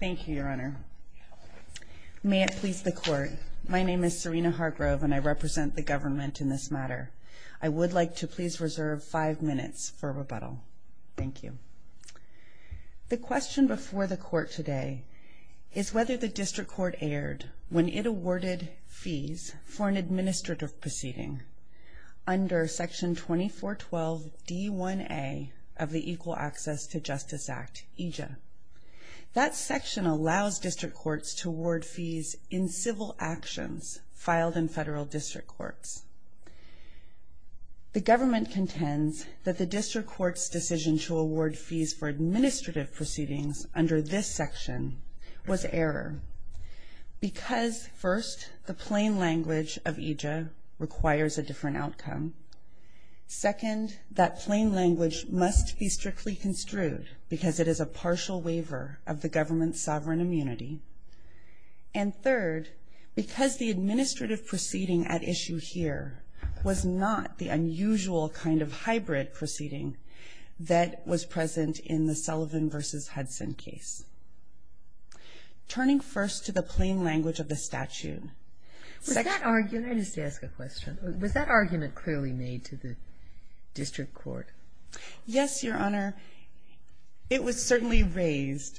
Thank you, Your Honor. May it please the court, my name is Serena Hargrove and I represent the government in this matter. I would like to please reserve five minutes for rebuttal. Thank you. The question before the court today is whether the district court erred when it awarded fees for an administrative proceeding under Section 2412 D1A of the Equal Access to Justice Act, EJA. That section allows district courts to award fees in civil actions filed in federal district courts. The government contends that the district court's decision to award fees for administrative proceedings under this section was error because, first, the plain language of EJA requires a different outcome. Second, that plain language must be strictly construed because it is a partial waiver of the government's sovereign immunity. And third, because the administrative proceeding at issue here was not the unusual kind of hybrid proceeding that was present in the Sullivan v. Hudson case. Turning first to the plain language of the statute. Was that argument clearly made to the district court? Yes, Your Honor. It was certainly raised.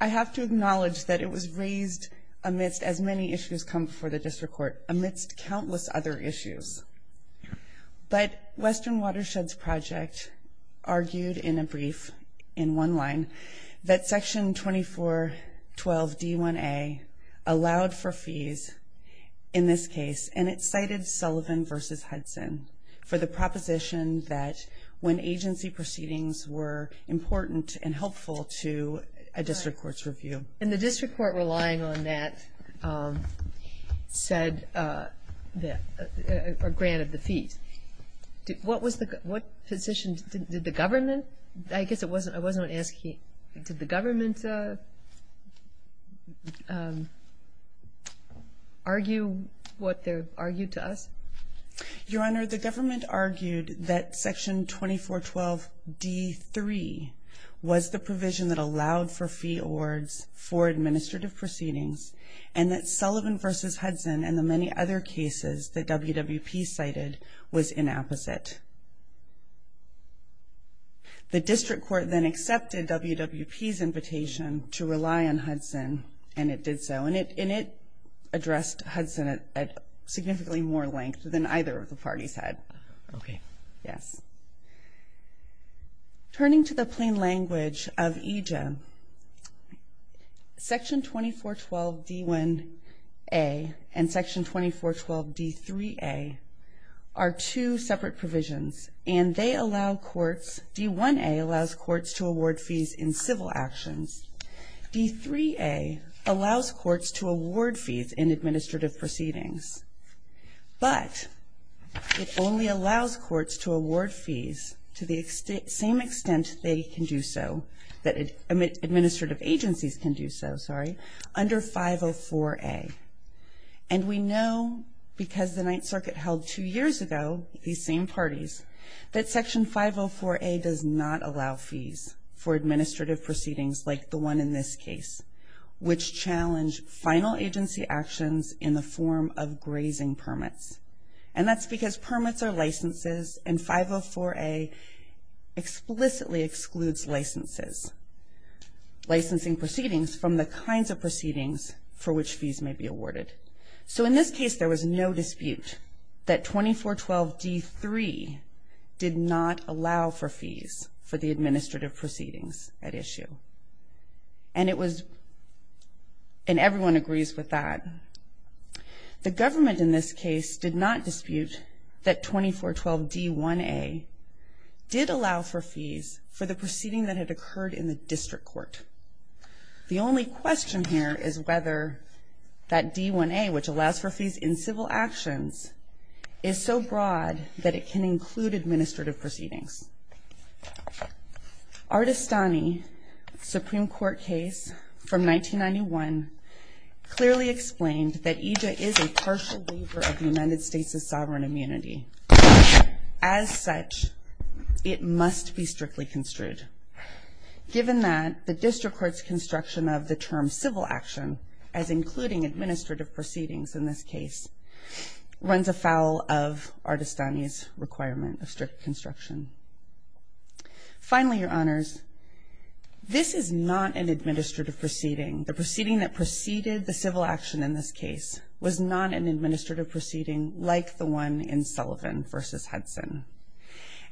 I have to acknowledge that it was raised amidst as many issues come before the district court, amidst countless other issues. But Western Watersheds Project argued in a brief, in one line, that Section 2412 D1A allowed for fees in this case, and it cited Sullivan v. Hudson for the proposition that when agency proceedings were important and helpful to a district court's review. And the district court relying on that said that, granted the fees. What was the, what position did the government, I guess it wasn't, I wasn't asking, did the government argue what they argued to us? Your Honor, the government argued that Section 2412 D3 was the provision that allowed for fee awards for administrative proceedings, and that Sullivan v. Hudson and the many other cases that WWP cited was inapposite. The district court then accepted WWP's invitation to rely on Hudson, and it did so, and it addressed Hudson at significantly more length than either of the parties had. Okay. Yes. Turning to the plain language of EJM, Section 2412 D1A and Section 2412 D3A are two separate provisions, and they allow courts, D1A allows courts to award fees in civil actions. D3A allows courts to award fees in administrative proceedings, but it only allows courts to award fees to the same extent they can do so, that administrative agencies can do so, sorry, under 504A. And we know because the Ninth Circuit held two years ago these same parties, that Section 504A does not allow fees for administrative proceedings like the one in this case, which challenge final agency actions in the form of grazing permits. And that's because permits are licenses, and 504A explicitly excludes licenses, licensing proceedings from the kinds of proceedings for which fees may be awarded. So in this case, there was no dispute that 2412 D3 did not allow for fees for the administrative proceedings at issue. And it was, and everyone agrees with that. The government in this case did not dispute that 2412 D1A did allow for fees for the proceeding that had occurred in the district court. The only question here is whether that D1A, which allows for fees in civil actions, is so broad that it can include administrative proceedings. Ardestani, Supreme Court case from 1991, clearly explained that EJA is a partial waiver of the United States' sovereign immunity. As such, it must be strictly construed. Given that, the district court's construction of the term civil action, as including administrative proceedings in this case, runs afoul of Ardestani's requirement of strict construction. Finally, Your Honors, this is not an administrative proceeding. The proceeding that preceded the civil action in this case was not an administrative proceeding like the one in Sullivan v. Hudson.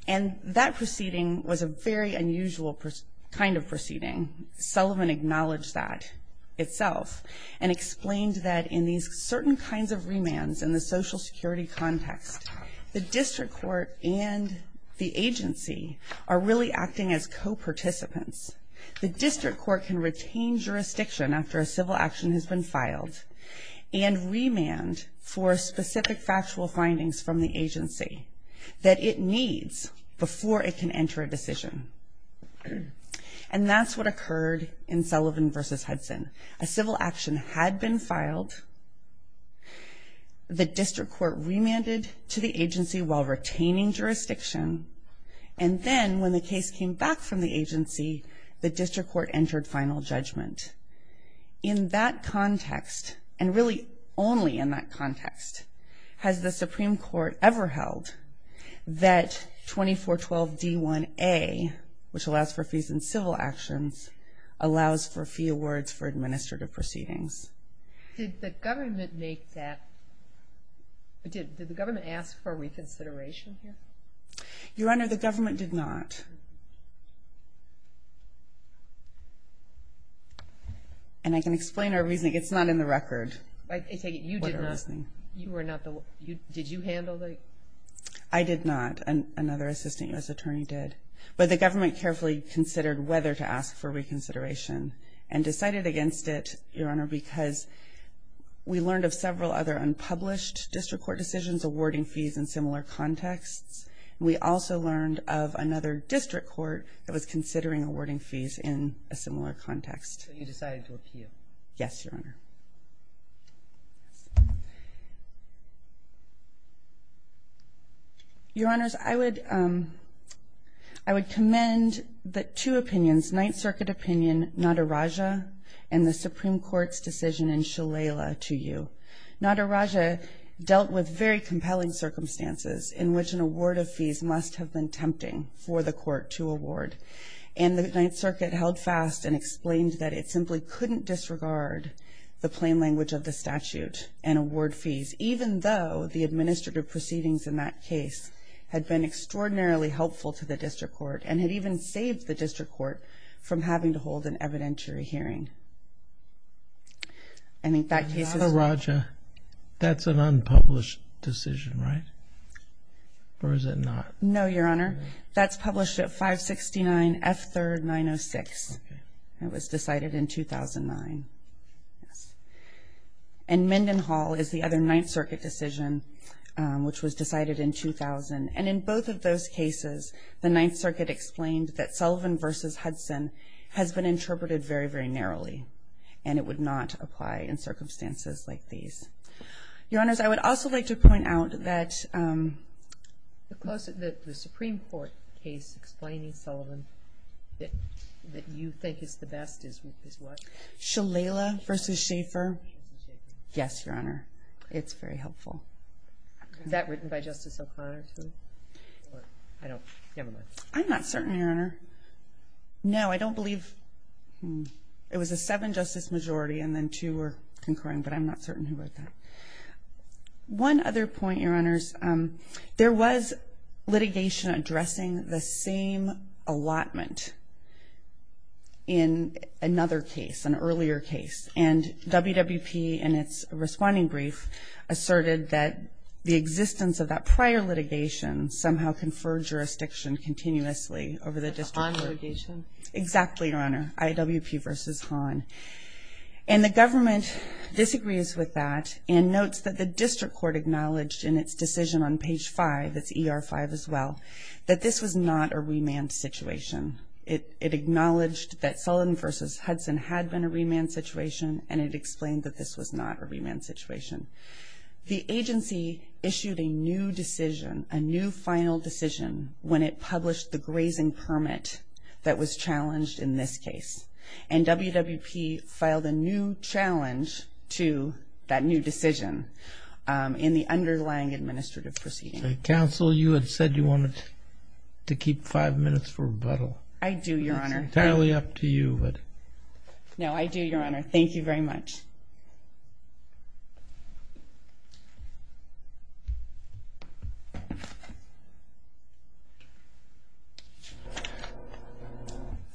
And that proceeding was a very unusual kind of proceeding. Sullivan acknowledged that itself and explained that in these certain kinds of remands in the social security context, the district court and the agency are really acting as co-participants. The district court can retain jurisdiction after a civil action has been filed and remand for specific factual findings from the agency. That it needs before it can enter a decision. And that's what occurred in Sullivan v. Hudson. A civil action had been filed. The district court remanded to the agency while retaining jurisdiction. And then when the case came back from the agency, the district court entered final judgment. In that context, and really only in that context, has the Supreme Court ever held that 2412 D1A, which allows for fees in civil actions, allows for fee awards for administrative proceedings. Did the government make that, did the government ask for reconsideration here? Your Honor, the government did not. And I can explain our reasoning. It's not in the record. I take it you did not. You were not the one. Did you handle the? I did not. Another assistant U.S. attorney did. But the government carefully considered whether to ask for reconsideration and decided against it, Your Honor, because we learned of several other unpublished district court decisions awarding fees in similar contexts. We also learned of another district court that was considering awarding fees in a similar context. So you decided to appeal? Yes, Your Honor. Your Honors, I would commend the two opinions, Ninth Circuit opinion, Nadaraja, and the Supreme Court's decision in Shalala to you. Nadaraja dealt with very compelling circumstances in which an award of fees must have been tempting for the court to award. And the Ninth Circuit held fast and explained that it simply couldn't disregard the plain language of the statute and award fees, even though the administrative proceedings in that case had been extraordinarily helpful to the district court and had even saved the district court from having to hold an evidentiary hearing. Nadaraja, that's an unpublished decision, right? Or is it not? No, Your Honor. That's published at 569 F. 3rd. 906. It was decided in 2009. And Mendenhall is the other Ninth Circuit decision, which was decided in 2000. And in both of those cases, the Ninth Circuit explained that Sullivan v. Hudson has been interpreted very, very narrowly. And it would not apply in circumstances like these. Your Honors, I would also like to point out that... The Supreme Court case explaining Sullivan that you think is the best is what? Shalala v. Schaefer. Yes, Your Honor. It's very helpful. Is that written by Justice O'Connor, too? I'm not certain, Your Honor. No, I don't believe... It was a seven-justice majority and then two were concurring, but I'm not certain who wrote that. One other point, Your Honors. There was litigation addressing the same allotment in another case, an earlier case. And WWP in its responding brief asserted that the existence of that prior litigation somehow conferred jurisdiction continuously over the district court. On litigation? Exactly, Your Honor. IWP v. Hahn. And the government disagrees with that and notes that the district court acknowledged in its decision on page 5, that's ER 5 as well, that this was not a remand situation. It acknowledged that Sullivan v. Hudson had been a remand situation and it explained that this was not a remand situation. The agency issued a new decision, a new final decision, when it published the grazing permit that was challenged in this case. And WWP filed a new challenge to that new decision in the underlying administrative proceeding. Counsel, you had said you wanted to keep five minutes for rebuttal. I do, Your Honor. It's entirely up to you. No, I do, Your Honor. Thank you very much. Thank you.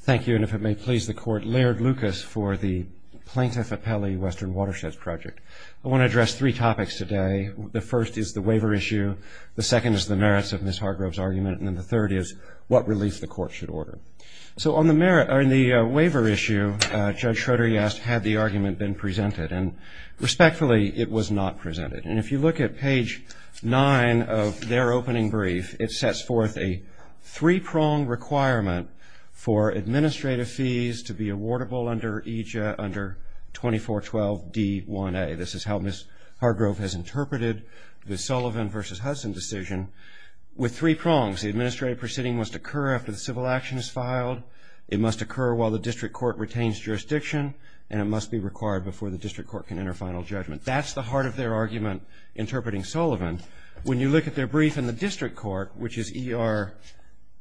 Thank you, and if it may please the Court, Laird Lucas for the Plaintiff Appellee Western Watersheds Project. I want to address three topics today. The first is the waiver issue. The second is the merits of Ms. Hargrove's argument. And the third is what relief the Court should order. So on the waiver issue, Judge Schroeder, you asked, had the argument been presented? And respectfully, it was not presented. And if you look at page 9 of their opening brief, it sets forth a three-prong requirement for administrative fees to be awardable under 2412D1A. This is how Ms. Hargrove has interpreted the Sullivan v. Hudson decision. With three prongs, the administrative proceeding must occur after the civil action is filed, it must occur while the district court retains jurisdiction, and it must be required before the district court can enter final judgment. That's the heart of their argument interpreting Sullivan. When you look at their brief in the district court, which is ER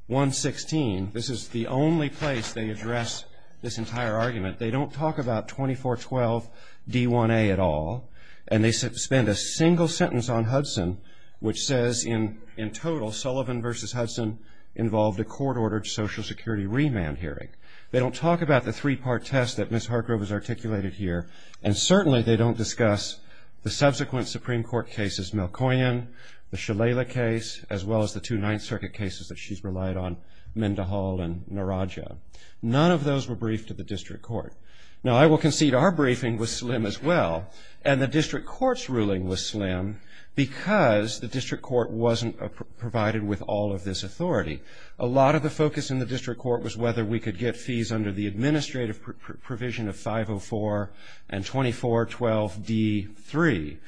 116, this is the only place they address this entire argument. They don't talk about 2412D1A at all, and they spend a single sentence on Hudson which says, in total, Sullivan v. Hudson involved a court-ordered Social Security remand hearing. They don't talk about the three-part test that Ms. Hargrove has articulated here, and certainly they don't discuss the subsequent Supreme Court cases, Melkoian, the Shalala case, as well as the two Ninth Circuit cases that she's relied on, Mendehall and Narraja. None of those were briefed to the district court. Now, I will concede our briefing was slim as well, and the district court's ruling was slim because the district court wasn't provided with all of this authority. A lot of the focus in the district court was whether we could get fees under the administrative provision of 504 and 2412D3.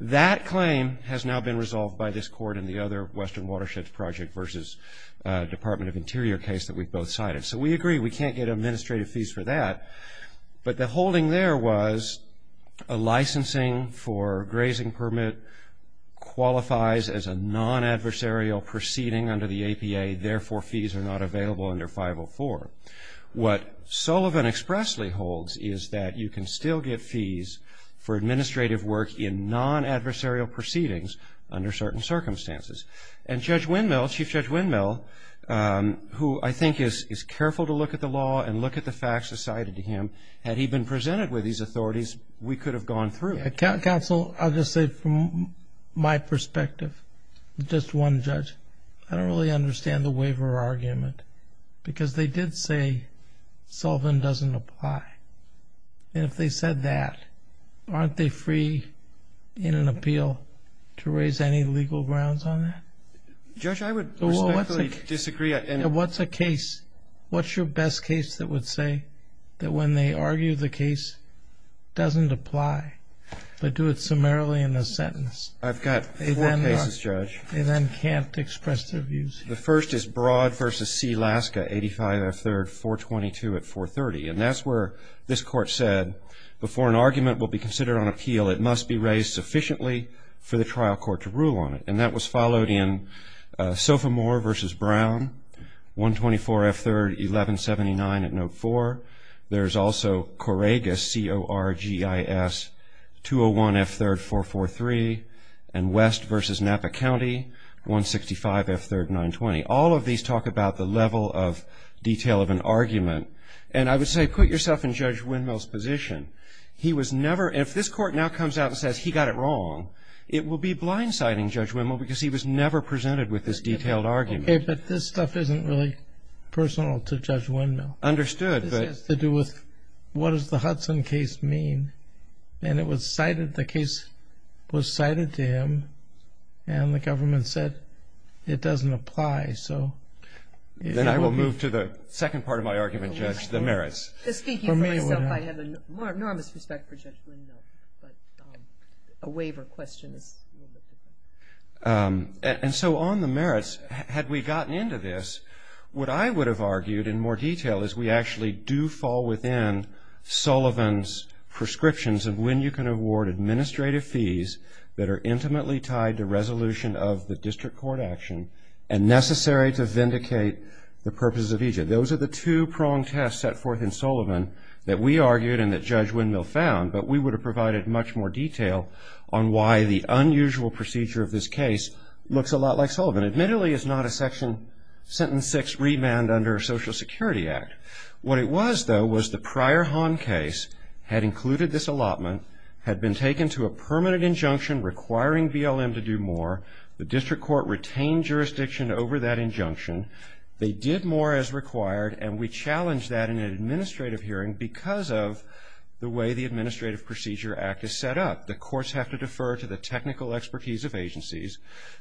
That claim has now been resolved by this court and the other Western Watersheds Project v. Department of Interior case that we've both cited. So we agree we can't get administrative fees for that, but the holding there was a licensing for grazing permit qualifies as a non-adversarial proceeding under the APA. Therefore, fees are not available under 504. What Sullivan expressly holds is that you can still get fees for administrative work in non-adversarial proceedings under certain circumstances. And Judge Windmill, Chief Judge Windmill, who I think is careful to look at the law and look at the facts assigned to him, had he been presented with these authorities, we could have gone through it. Counsel, I'll just say from my perspective, just one, Judge. I don't really understand the waiver argument because they did say Sullivan doesn't apply. And if they said that, aren't they free in an appeal to raise any legal grounds on that? Judge, I would respectfully disagree. What's a case, what's your best case that would say that when they argue the case doesn't apply but do it summarily in a sentence? I've got four cases, Judge. They then can't express their views. The first is Broad v. C. Laska, 85 F. 3rd, 422 at 430. And that's where this Court said before an argument will be considered on appeal, it must be raised sufficiently for the trial court to rule on it. And that was followed in Sofomore v. Brown, 124 F. 3rd, 1179 at Note 4. There's also Corregis, C-O-R-G-I-S, 201 F. 3rd, 443. And West v. Napa County, 165 F. 3rd, 920. All of these talk about the level of detail of an argument. And I would say put yourself in Judge Windmill's position. He was never, if this Court now comes out and says he got it wrong, it will be blindsiding Judge Windmill because he was never presented with this detailed argument. Okay, but this stuff isn't really personal to Judge Windmill. Understood. This has to do with what does the Hudson case mean? And it was cited, the case was cited to him, and the government said it doesn't apply. Then I will move to the second part of my argument, Judge, the merits. Speaking for myself, I have enormous respect for Judge Windmill, but a waiver question is a little bit different. And so on the merits, had we gotten into this, what I would have argued in more detail is we actually do fall within Sullivan's prescriptions of when you can award administrative fees that are intimately tied to resolution of the district court action Those are the two-pronged tests set forth in Sullivan that we argued and that Judge Windmill found, but we would have provided much more detail on why the unusual procedure of this case looks a lot like Sullivan. Admittedly, it's not a section, sentence six remand under Social Security Act. What it was, though, was the prior Hahn case had included this allotment, had been taken to a permanent injunction requiring BLM to do more. The district court retained jurisdiction over that injunction. They did more as required, and we challenged that in an administrative hearing because of the way the Administrative Procedure Act is set up. The courts have to defer to the technical expertise of agencies,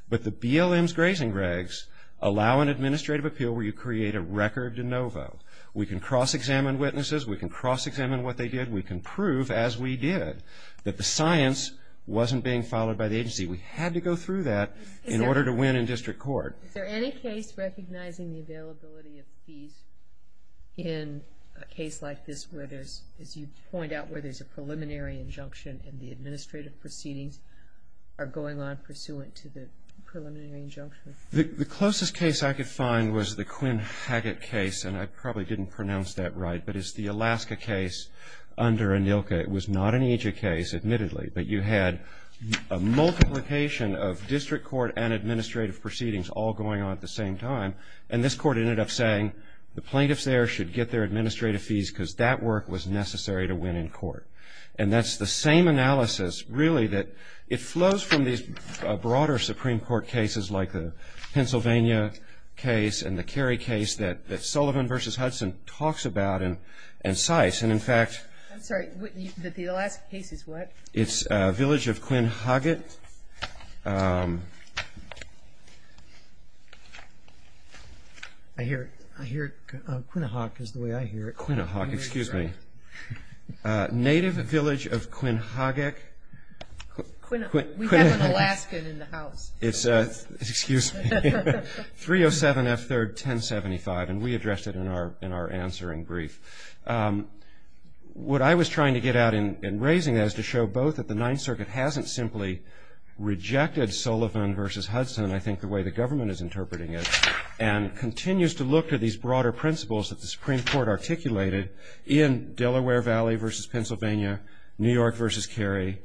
but the BLM's grazing regs allow an administrative appeal where you create a record de novo. We can cross-examine witnesses. We can cross-examine what they did. We can prove, as we did, that the science wasn't being followed by the agency. We had to go through that in order to win in district court. Is there any case recognizing the availability of fees in a case like this where there's, as you point out, where there's a preliminary injunction and the administrative proceedings are going on pursuant to the preliminary injunction? The closest case I could find was the Quinn Haggatt case, and I probably didn't pronounce that right, but it's the Alaska case under ANILCA. It was not an AJA case, admittedly, but you had a multiplication of district court and administrative proceedings all going on at the same time, and this court ended up saying the plaintiffs there should get their administrative fees because that work was necessary to win in court. And that's the same analysis, really, that it flows from these broader Supreme Court cases like the Pennsylvania case and the Kerry case that Sullivan v. Hudson talks about and cites. I'm sorry, the Alaska case is what? It's Village of Quinn Haggatt. I hear it. Quinnahawk is the way I hear it. Quinnahawk, excuse me. Native Village of Quinn Haggatt. We have an Alaskan in the house. Excuse me. 307 F. 3rd, 1075, and we addressed it in our answering brief. What I was trying to get at in raising that is to show both that the Ninth Circuit hasn't simply rejected Sullivan v. Hudson, I think the way the government is interpreting it, and continues to look to these broader principles that the Supreme Court articulated in Delaware Valley v. Pennsylvania, New York v. Kerry.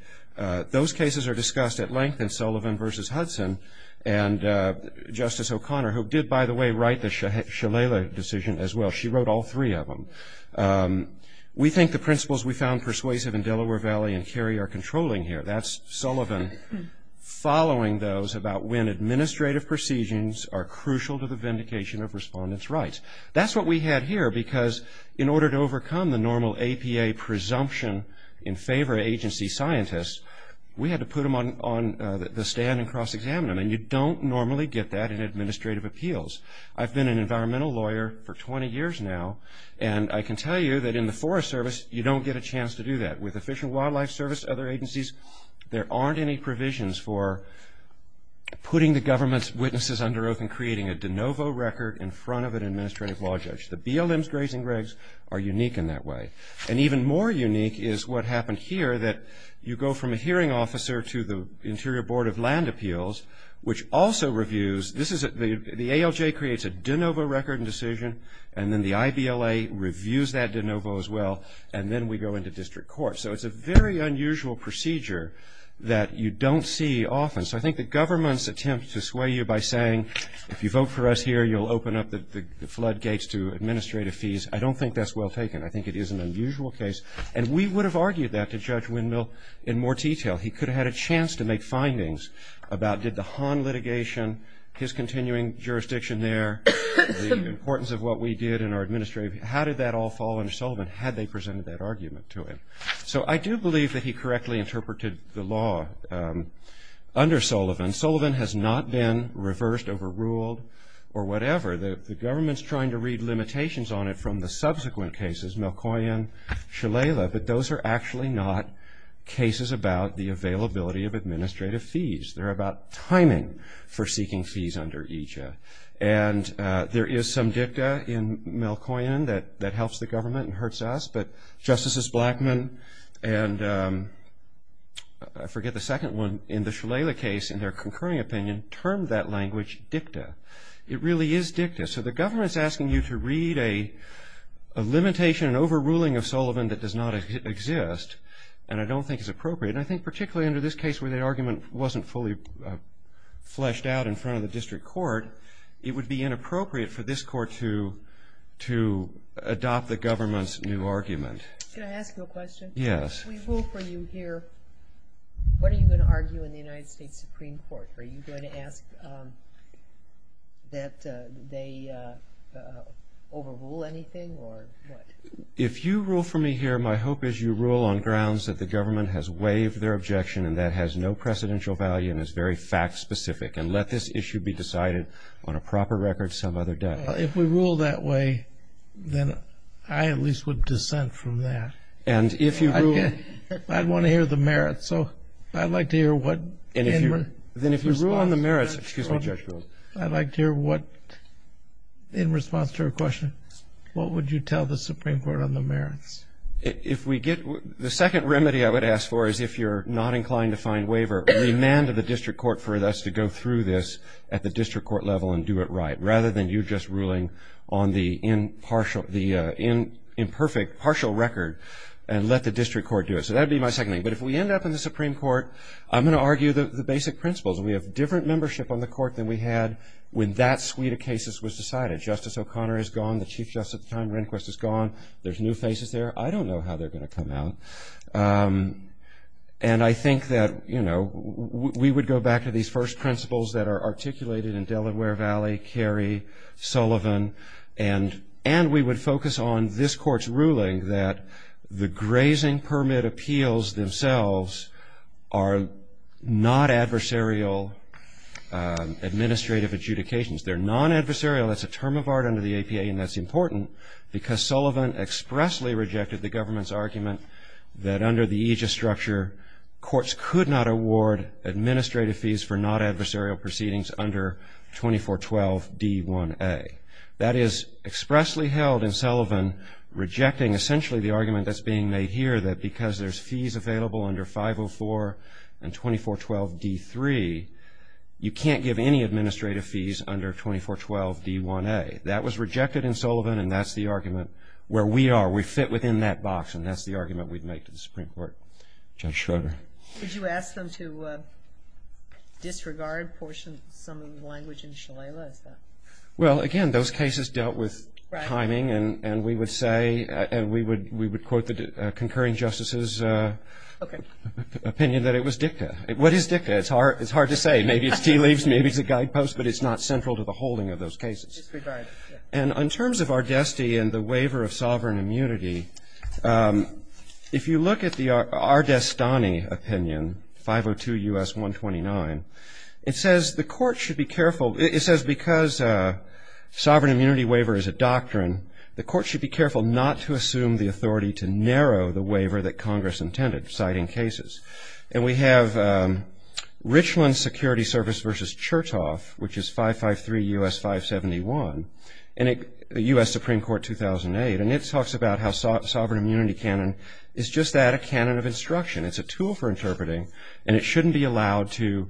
And Justice O'Connor, who did, by the way, write the Shalala decision as well, she wrote all three of them. We think the principles we found persuasive in Delaware Valley and Kerry are controlling here. That's Sullivan following those about when administrative procedures are crucial to the vindication of respondents' rights. That's what we had here, because in order to overcome the normal APA presumption in favor of agency scientists, we had to put them on the stand and cross-examine them, and you don't normally get that in administrative appeals. I've been an environmental lawyer for 20 years now, and I can tell you that in the Forest Service you don't get a chance to do that. With the Fish and Wildlife Service, other agencies, there aren't any provisions for putting the government's witnesses under oath and creating a de novo record in front of an administrative law judge. The BLM's grazing regs are unique in that way. And even more unique is what happened here, that you go from a hearing officer to the Interior Board of Land Appeals, which also reviews. The ALJ creates a de novo record and decision, and then the IBLA reviews that de novo as well, and then we go into district court. So it's a very unusual procedure that you don't see often. So I think the government's attempt to sway you by saying, if you vote for us here you'll open up the floodgates to administrative fees, I don't think that's well taken. I think it is an unusual case, and we would have argued that to Judge Windmill in more detail. He could have had a chance to make findings about did the Hahn litigation, his continuing jurisdiction there, the importance of what we did in our administrative, how did that all fall under Sullivan had they presented that argument to him. So I do believe that he correctly interpreted the law under Sullivan. Sullivan has not been reversed, overruled, or whatever. The government's trying to read limitations on it from the subsequent cases, Melkoian, Shalala, but those are actually not cases about the availability of administrative fees. They're about timing for seeking fees under each. And there is some dicta in Melkoian that helps the government and hurts us, but Justices Blackman and I forget the second one in the Shalala case, in their concurring opinion, termed that language dicta. It really is dicta. So the government's asking you to read a limitation, an overruling of Sullivan that does not exist, and I don't think it's appropriate. And I think particularly under this case where the argument wasn't fully fleshed out in front of the district court, it would be inappropriate for this court to adopt the government's new argument. Can I ask you a question? Yes. If we vote for you here, what are you going to argue in the United States Supreme Court? Are you going to ask that they overrule anything or what? If you rule for me here, my hope is you rule on grounds that the government has waived their objection and that has no precedential value and is very fact specific and let this issue be decided on a proper record some other day. If we rule that way, then I at least would dissent from that. And if you rule – I'd want to hear the merits, so I'd like to hear what – Then if you rule on the merits – I'd like to hear what – in response to her question, what would you tell the Supreme Court on the merits? If we get – the second remedy I would ask for is if you're not inclined to find waiver, remand to the district court for us to go through this at the district court level and do it right, rather than you just ruling on the imperfect partial record and let the district court do it. So that would be my second thing. But if we end up in the Supreme Court, I'm going to argue the basic principles. We have different membership on the court than we had when that suite of cases was decided. Justice O'Connor is gone. The Chief Justice at the time, Rehnquist, is gone. There's new faces there. I don't know how they're going to come out. And I think that, you know, we would go back to these first principles that are articulated in Delaware Valley, Kerry, Sullivan, and we would focus on this Court's ruling that the grazing permit appeals themselves are not adversarial administrative adjudications. They're non-adversarial. That's a term of art under the APA, and that's important, because Sullivan expressly rejected the government's argument that under the aegis structure, courts could not award administrative fees for non-adversarial proceedings under 2412D1A. That is expressly held in Sullivan, rejecting essentially the argument that's being made here that because there's fees available under 504 and 2412D3, you can't give any administrative fees under 2412D1A. That was rejected in Sullivan, and that's the argument where we are. We fit within that box, and that's the argument we'd make to the Supreme Court. Judge Schroeder. Would you ask them to disregard some of the language in Shalala? Well, again, those cases dealt with timing, and we would say, and we would quote the concurring justice's opinion that it was dicta. What is dicta? It's hard to say. Maybe it's tea leaves. Maybe it's a guidepost, but it's not central to the holding of those cases. Disregard. And in terms of Ardesti and the waiver of sovereign immunity, if you look at the Ardestani opinion, 502 U.S. 129, it says the court should be careful. It says because sovereign immunity waiver is a doctrine, the court should be careful not to assume the authority to narrow the waiver that Congress intended, citing cases. And we have Richland Security Service v. Chertoff, which is 553 U.S. 571, and the U.S. Supreme Court 2008, and it talks about how sovereign immunity canon is just that, a canon of instruction. It's a tool for interpreting, and it shouldn't be allowed to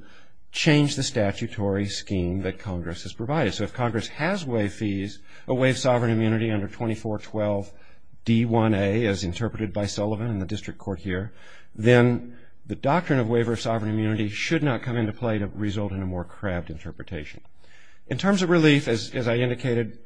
change the statutory scheme that Congress has provided. So if Congress has waived fees, waived sovereign immunity under 2412 D1A, as interpreted by Sullivan in the district court here, then the doctrine of waiver of sovereign immunity should not come into play to result in a more crabbed interpretation. In terms of relief, as I indicated,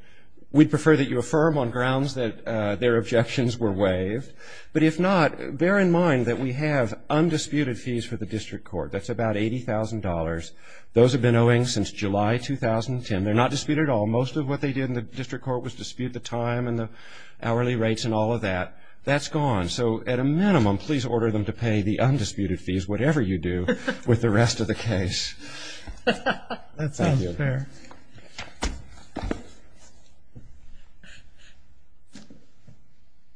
we'd prefer that you affirm on grounds that their objections were waived. But if not, bear in mind that we have undisputed fees for the district court. That's about $80,000. Those have been owing since July 2010. They're not disputed at all. Most of what they did in the district court was dispute the time and the hourly rates and all of that. That's gone. So at a minimum, please order them to pay the undisputed fees, whatever you do with the rest of the case. That sounds fair.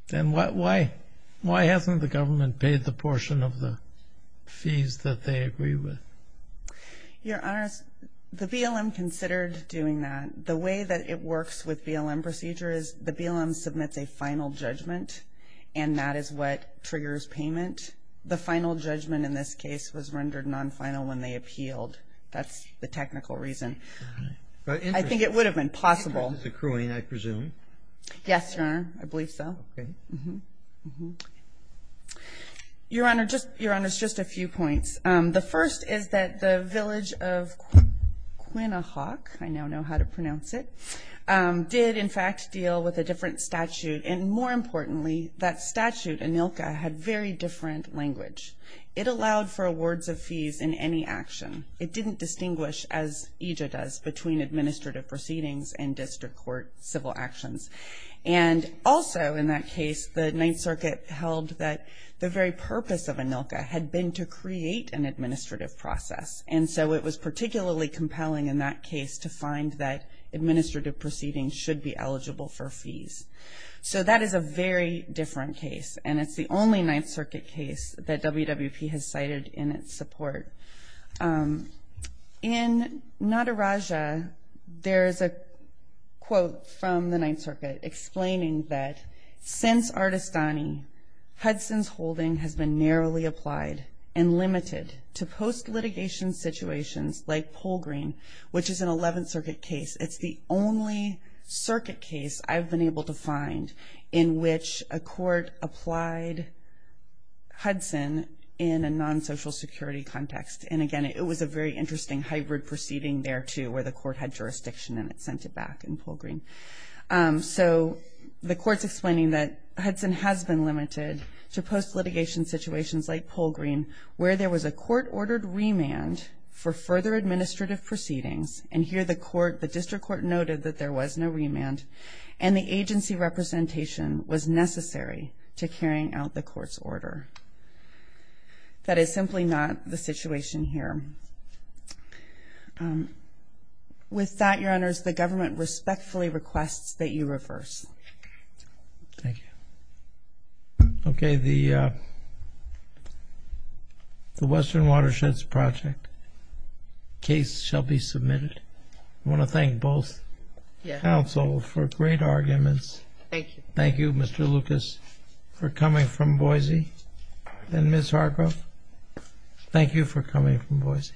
Then why hasn't the government paid the portion of the fees that they agree with? Your Honors, the BLM considered doing that. The way that it works with BLM procedure is the BLM submits a final judgment, and that is what triggers payment. The final judgment in this case was rendered non-final when they appealed. That's the technical reason. I think it would have been possible. But interest is accruing, I presume. Yes, Your Honor. I believe so. Okay. Your Honors, just a few points. The first is that the village of Quinnahawk, I now know how to pronounce it, did, in fact, deal with a different statute. And more importantly, that statute, ANILCA, had very different language. It allowed for awards of fees in any action. It didn't distinguish, as EJA does, between administrative proceedings and district court civil actions. And also, in that case, the Ninth Circuit held that the very purpose of ANILCA had been to create an administrative process, and so it was particularly compelling in that case to find that administrative proceedings should be eligible for fees. So that is a very different case, and it's the only Ninth Circuit case that WWP has cited in its support. In Nataraja, there is a quote from the Ninth Circuit explaining that, since Artestani, Hudson's holding has been narrowly applied and limited to post-litigation situations like Polgreen, which is an Eleventh Circuit case. It's the only circuit case I've been able to find in which a court applied Hudson in a non-social security context. And again, it was a very interesting hybrid proceeding there, too, where the court had jurisdiction and it sent it back in Polgreen. So the court's explaining that Hudson has been limited to post-litigation situations like Polgreen, where there was a court-ordered remand for further administrative proceedings, and here the district court noted that there was no remand, and the agency representation was necessary to carrying out the court's order. That is simply not the situation here. With that, Your Honors, the government respectfully requests that you reverse. Thank you. Okay, the Western Watersheds Project case shall be submitted. I want to thank both counsel for great arguments. Thank you. Thank you, Mr. Lucas, for coming from Boise. And Ms. Hargrove, thank you for coming from Boise.